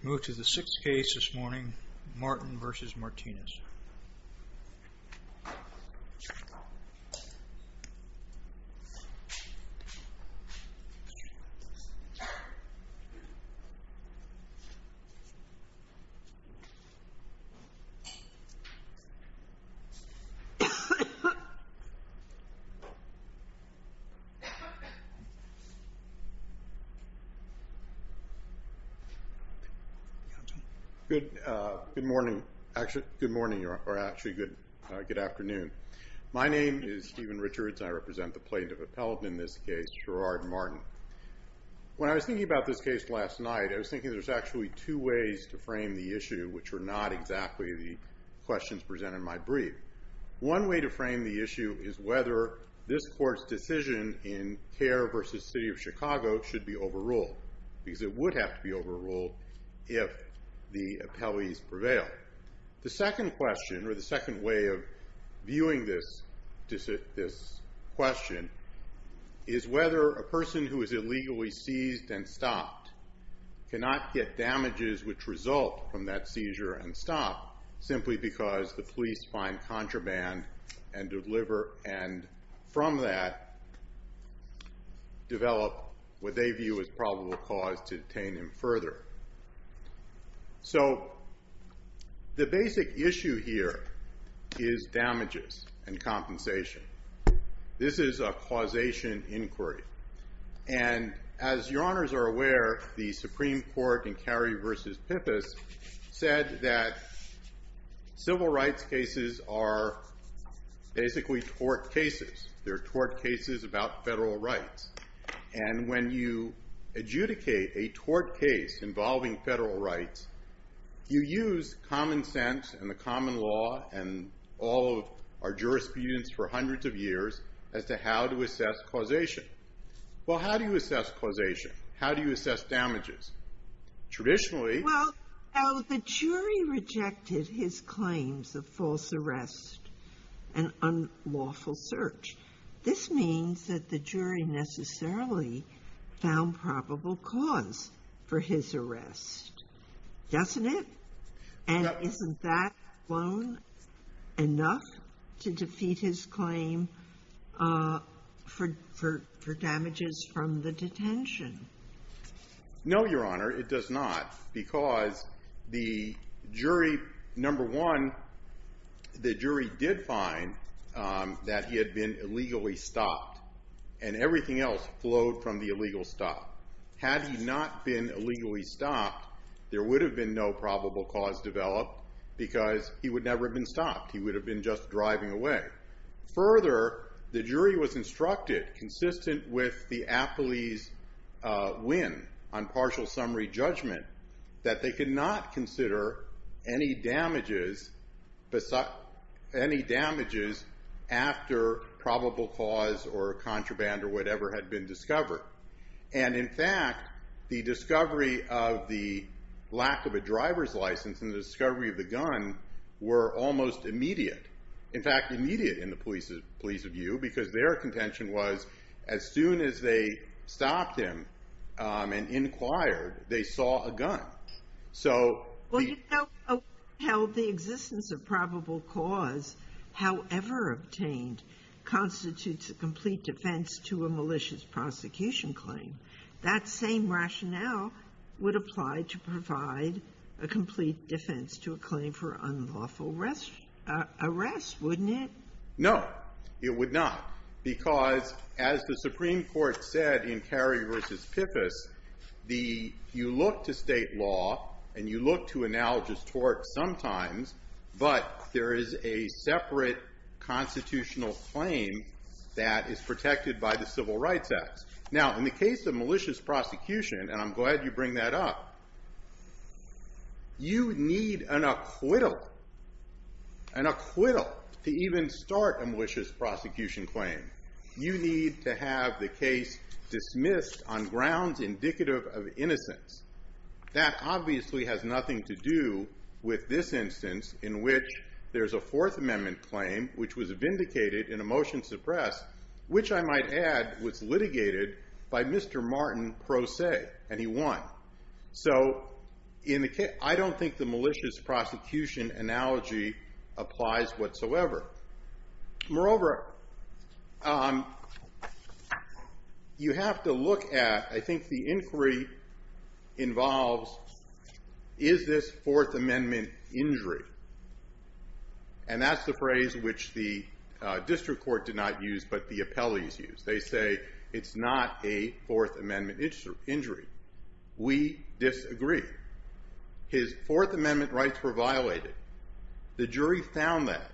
We move to the sixth case this morning, Martin v. Martinez. Good morning, or actually good afternoon. My name is Stephen Richards, and I represent the plaintiff appellate in this case, Gerard Martin. When I was thinking about this case last night, I was thinking there's actually two ways to frame the issue, which were not exactly the questions presented in my brief. One way to frame the issue is whether this court's decision in Kerr v. City of Chicago should be overruled, because it would have to be overruled if the appellees prevail. The second question, or the second way of viewing this question, is whether a person who is illegally seized and stopped cannot get damages which result from that seizure and stop, simply because the police find contraband and from that develop what they view as probable cause to detain him further. So the basic issue here is damages and compensation. This is a causation inquiry. And as your honors are aware, the Supreme Court in Kerry v. Pippis said that civil rights cases are basically tort cases. They're tort cases about federal rights. And when you adjudicate a tort case involving federal rights, you use common sense and the common law and all of our jurisprudence for hundreds of years as to how to assess causation. Well, how do you assess causation? How do you assess damages? Traditionally... found probable cause for his arrest, doesn't it? And isn't that alone enough to defeat his claim for damages from the detention? No, your honor, it does not, because the jury, number one, the jury did find that he had been illegally stopped. And everything else flowed from the illegal stop. Had he not been illegally stopped, there would have been no probable cause developed, because he would never have been stopped. He would have been just driving away. Further, the jury was instructed, consistent with the appellee's win on partial summary judgment, that they could not consider any damages after probable cause or contraband or whatever had been discovered. And in fact, the discovery of the lack of a driver's license and the discovery of the gun were almost immediate. In fact, immediate in the police's view, because their contention was as soon as they stopped him and inquired, they saw a gun. Well, you don't know how the existence of probable cause, however obtained, constitutes a complete defense to a malicious prosecution claim. That same rationale would apply to provide a complete defense to a claim for unlawful arrest, wouldn't it? No, it would not. Because as the Supreme Court said in Carey v. Piffus, the you look to State law and you look to analogous torts sometimes, but there is a separate constitutional claim that is protected by the Civil Rights Act. Now, in the case of malicious prosecution, and I'm glad you bring that up, you need an acquittal to even start a malicious prosecution claim. You need to have the case dismissed on grounds indicative of innocence. That obviously has nothing to do with this instance in which there's a Fourth Amendment claim, which was vindicated in a motion suppressed, which I might add was litigated by Mr. Martin Pro Se, and he won. So I don't think the malicious prosecution analogy applies whatsoever. Moreover, you have to look at, I think the inquiry involves, is this Fourth Amendment injury? And that's the phrase which the district court did not use, but the appellees used. They say it's not a Fourth Amendment injury. We disagree. His Fourth Amendment rights were violated. The jury found that.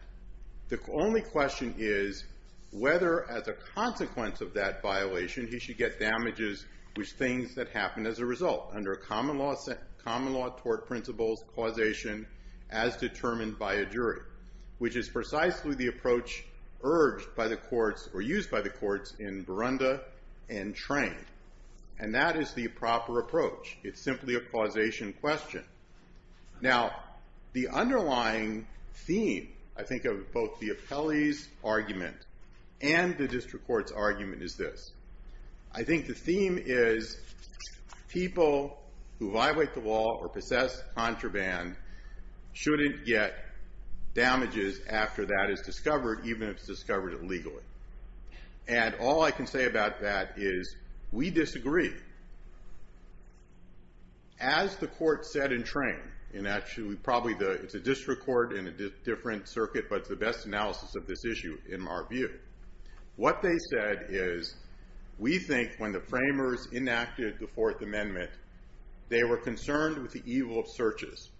The only question is whether, as a consequence of that violation, he should get damages with things that happened as a result under a common law tort principles causation as determined by a jury, which is precisely the approach urged by the courts or used by the courts in Burunda and Train. And that is the proper approach. It's simply a causation question. Now, the underlying theme, I think, of both the appellee's argument and the district court's argument is this. I think the theme is people who violate the law or possess contraband shouldn't get damages after that is discovered, even if it's discovered illegally. And all I can say about that is we disagree. As the court said in Train, and actually probably it's a district court in a different circuit, but it's the best analysis of this issue in our view. What they said is we think when the framers enacted the Fourth Amendment, they were concerned with the evil of searches,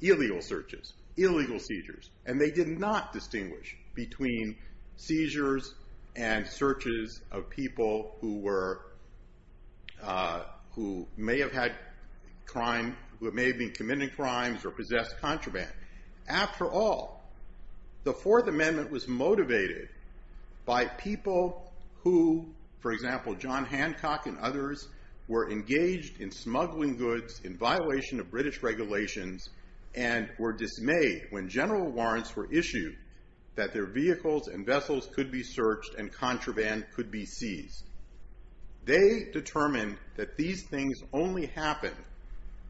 illegal searches, illegal seizures. And they did not distinguish between seizures and searches of people who may have been committing crimes or possessed contraband. After all, the Fourth Amendment was motivated by people who, for example, John Hancock and others, were engaged in smuggling goods in violation of British regulations and were dismayed when general warrants were issued that their vehicles and vessels could be searched and contraband could be seized. They determined that these things only happen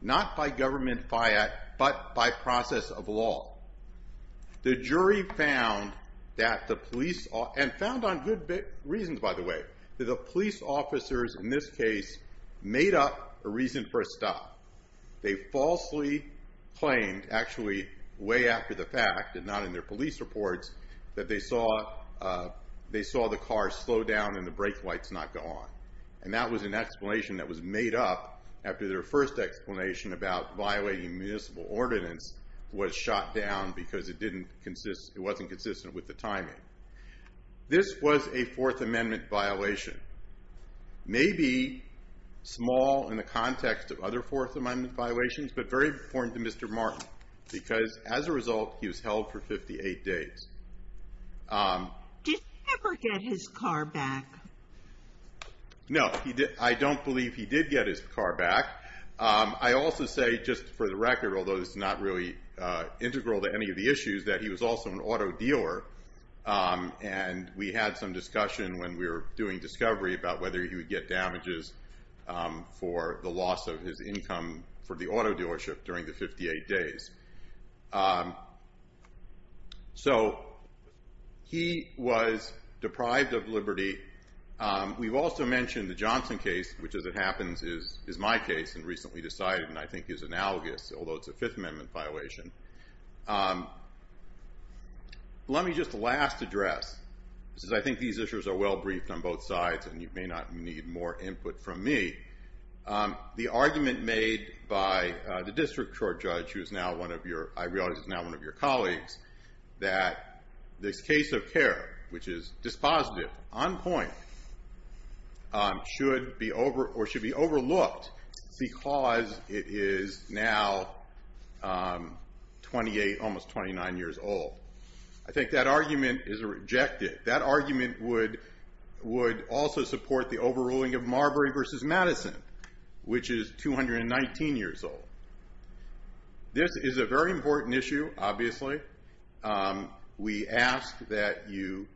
not by government fiat, but by process of law. The jury found that the police, and found on good reasons, by the way, that the police officers in this case made up a reason for a stop. They falsely claimed, actually way after the fact and not in their police reports, that they saw the car slow down and the brake lights not go on. And that was an explanation that was made up after their first explanation about violating municipal ordinance was shot down because it wasn't consistent with the timing. This was a Fourth Amendment violation. Maybe small in the context of other Fourth Amendment violations, but very important to Mr. Martin because, as a result, he was held for 58 days. Did he ever get his car back? No, I don't believe he did get his car back. I also say, just for the record, although this is not really integral to any of the issues, that he was also an auto dealer. And we had some discussion when we were doing discovery about whether he would get damages for the loss of his income for the auto dealership during the 58 days. So he was deprived of liberty. We've also mentioned the Johnson case, which, as it happens, is my case and recently decided and I think is analogous, although it's a Fifth Amendment violation. Let me just last address, since I think these issues are well briefed on both sides and you may not need more input from me, the argument made by the district court judge, who I realize is now one of your colleagues, that this case of care, which is dispositive, on point, should be overlooked because it is now almost 29 years old. I think that argument is rejected. That argument would also support the overruling of Marbury v. Madison, which is 219 years old. This is a very important issue, obviously. We ask that you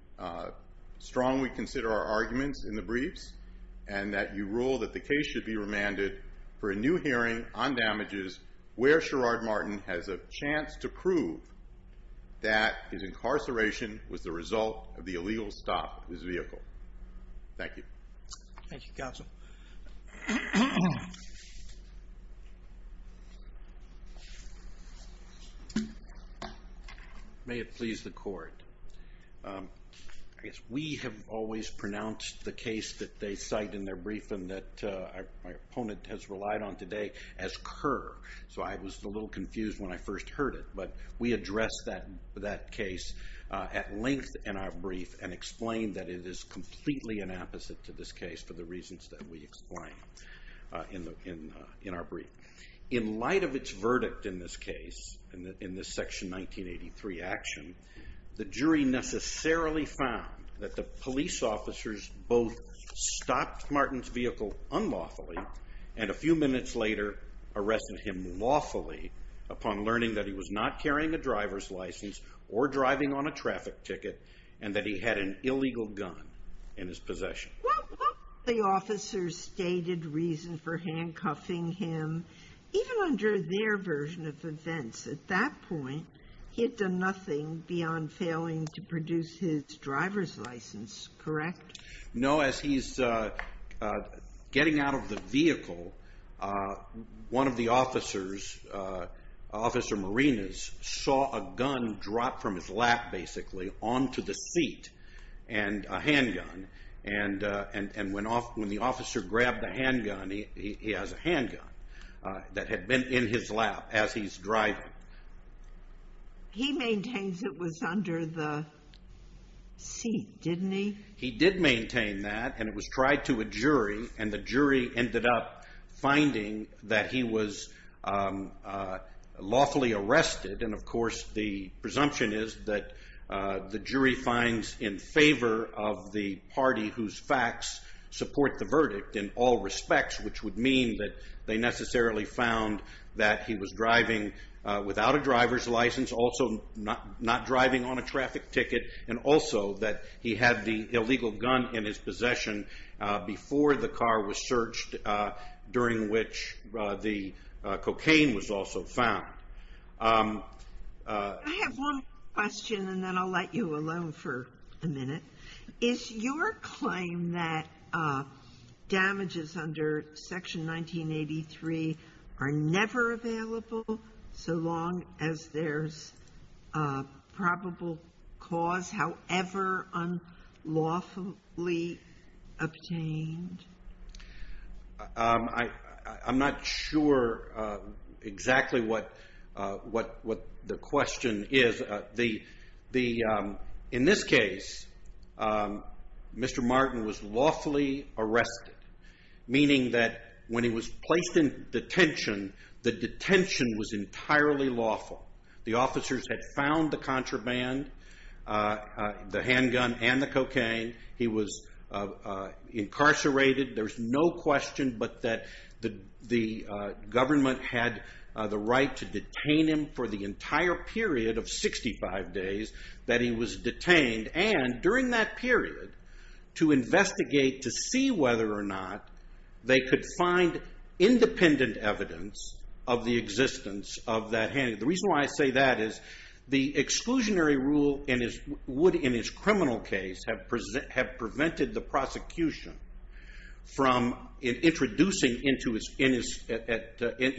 strongly consider our arguments in the briefs and that you rule that the case should be remanded for a new hearing on damages where Sherrod Martin has a chance to prove that his incarceration was the result of the illegal stop of his vehicle. Thank you. Thank you, counsel. May it please the court. We have always pronounced the case that they cite in their brief and that my opponent has relied on today as Kerr, so I was a little confused when I first heard it, but we addressed that case at length in our brief and explained that it is completely an opposite to this case for the reasons that we explained in our brief. In light of its verdict in this case, in this Section 1983 action, the jury necessarily found that the police officers both stopped Martin's vehicle unlawfully and a few minutes later arrested him lawfully upon learning that he was not carrying a driver's license or driving on a traffic ticket and that he had an illegal gun in his possession. Well, the officers stated reason for handcuffing him even under their version of events. At that point, he had done nothing beyond failing to produce his driver's license, correct? No. As he's getting out of the vehicle, one of the officers, Officer Marinas, saw a gun drop from his lap, basically, onto the seat and a handgun, and when the officer grabbed the handgun, he has a handgun that had been in his lap as he's driving. He maintains it was under the seat, didn't he? He did maintain that, and it was tried to a jury, and the jury ended up finding that he was lawfully arrested, and, of course, the presumption is that the jury finds in favor of the party whose facts support the verdict in all respects, which would mean that they necessarily found that he was driving without a driver's license, also not driving on a traffic ticket, and also that he had the illegal gun in his possession before the car was searched, during which the cocaine was also found. I have one question, and then I'll let you alone for a minute. Is your claim that damages under Section 1983 are never available, so long as there's probable cause, however unlawfully obtained? I'm not sure exactly what the question is. In this case, Mr. Martin was lawfully arrested, meaning that when he was placed in detention, the detention was entirely lawful. The officers had found the contraband, the handgun and the cocaine. He was incarcerated. There's no question but that the government had the right to detain him for the entire period of 65 days that he was detained and, during that period, to investigate to see whether or not they could find independent evidence of the existence of that handgun. The reason why I say that is the exclusionary rule would, in his criminal case, have prevented the prosecution from introducing, in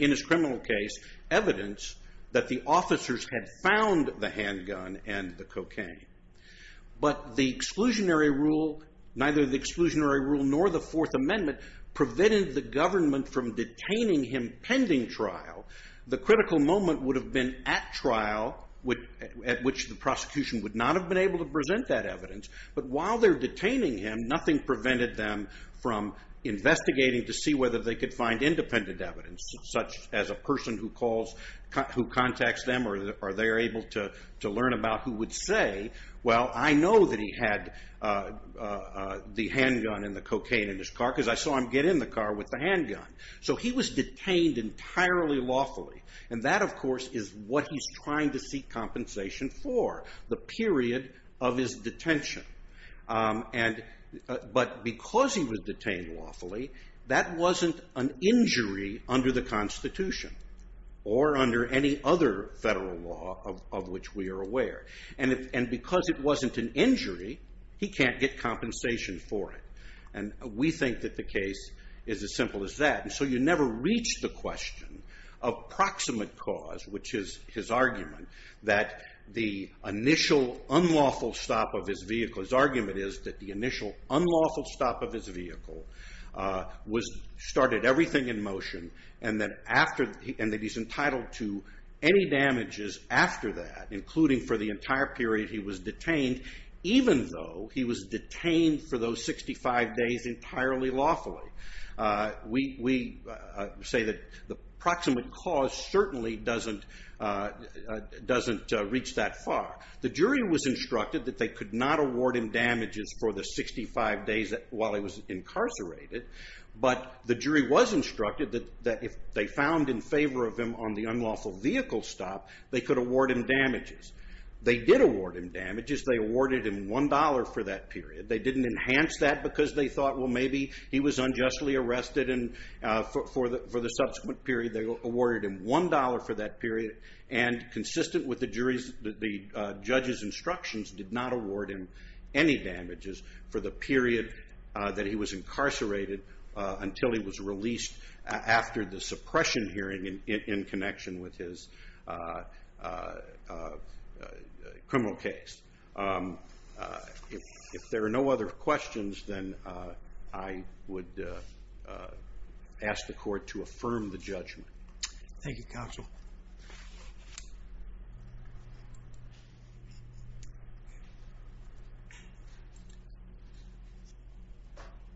his criminal case, evidence that the officers had found the handgun and the cocaine. But neither the exclusionary rule nor the Fourth Amendment prevented the government from detaining him pending trial. The critical moment would have been at trial, at which the prosecution would not have been able to present that evidence. But while they're detaining him, nothing prevented them from investigating to see whether they could find independent evidence, such as a person who contacts them or they're able to learn about who would say, well, I know that he had the handgun and the cocaine in his car because I saw him get in the car with the handgun. So he was detained entirely lawfully. And that, of course, is what he's trying to seek compensation for, the period of his detention. But because he was detained lawfully, that wasn't an injury under the Constitution or under any other federal law of which we are aware. And because it wasn't an injury, he can't get compensation for it. And we think that the case is as simple as that. And so you never reach the question of proximate cause, which is his argument that the initial unlawful stop of his vehicle his argument is that the initial unlawful stop of his vehicle started everything in motion, and that he's entitled to any damages after that, including for the entire period he was detained, even though he was detained for those 65 days entirely lawfully. We say that the proximate cause certainly doesn't reach that far. The jury was instructed that they could not award him damages for the 65 days while he was incarcerated. But the jury was instructed that if they found in favor of him on the unlawful vehicle stop, they could award him damages. They did award him damages. They awarded him $1 for that period. They didn't enhance that because they thought, well, maybe he was unjustly arrested, and for the subsequent period they awarded him $1 for that period. And consistent with the judge's instructions, did not award him any damages for the period that he was incarcerated until he was released after the suppression hearing in connection with his criminal case. If there are no other questions, then I would ask the court to affirm the judgment. Thank you, Counsel.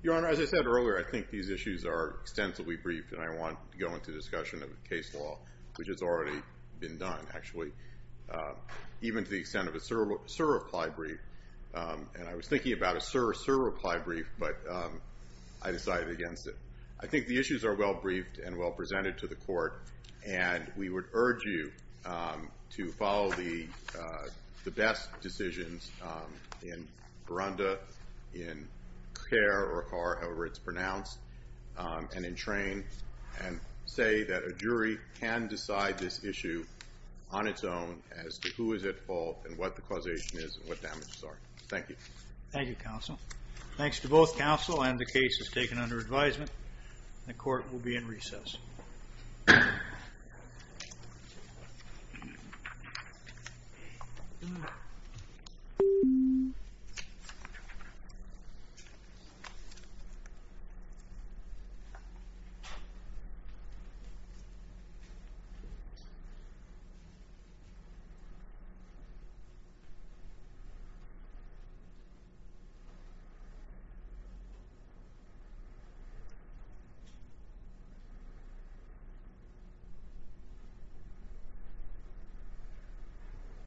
Your Honor, as I said earlier, I think these issues are extensively brief, and I want to go into discussion of case law, which has already been done, actually, even to the extent of a sur-reply brief. And I was thinking about a sur-reply brief, but I decided against it. I think the issues are well-briefed and well-presented to the court, and we would urge you to follow the best decisions in Ronda, in Kerr or Carr, however it's pronounced, and in Train, and say that a jury can decide this issue on its own as to who is at fault and what the causation is and what damages are. Thank you. Thank you, Counsel. Thanks to both Counsel and the cases taken under advisement, The court will be in recess. Thank you.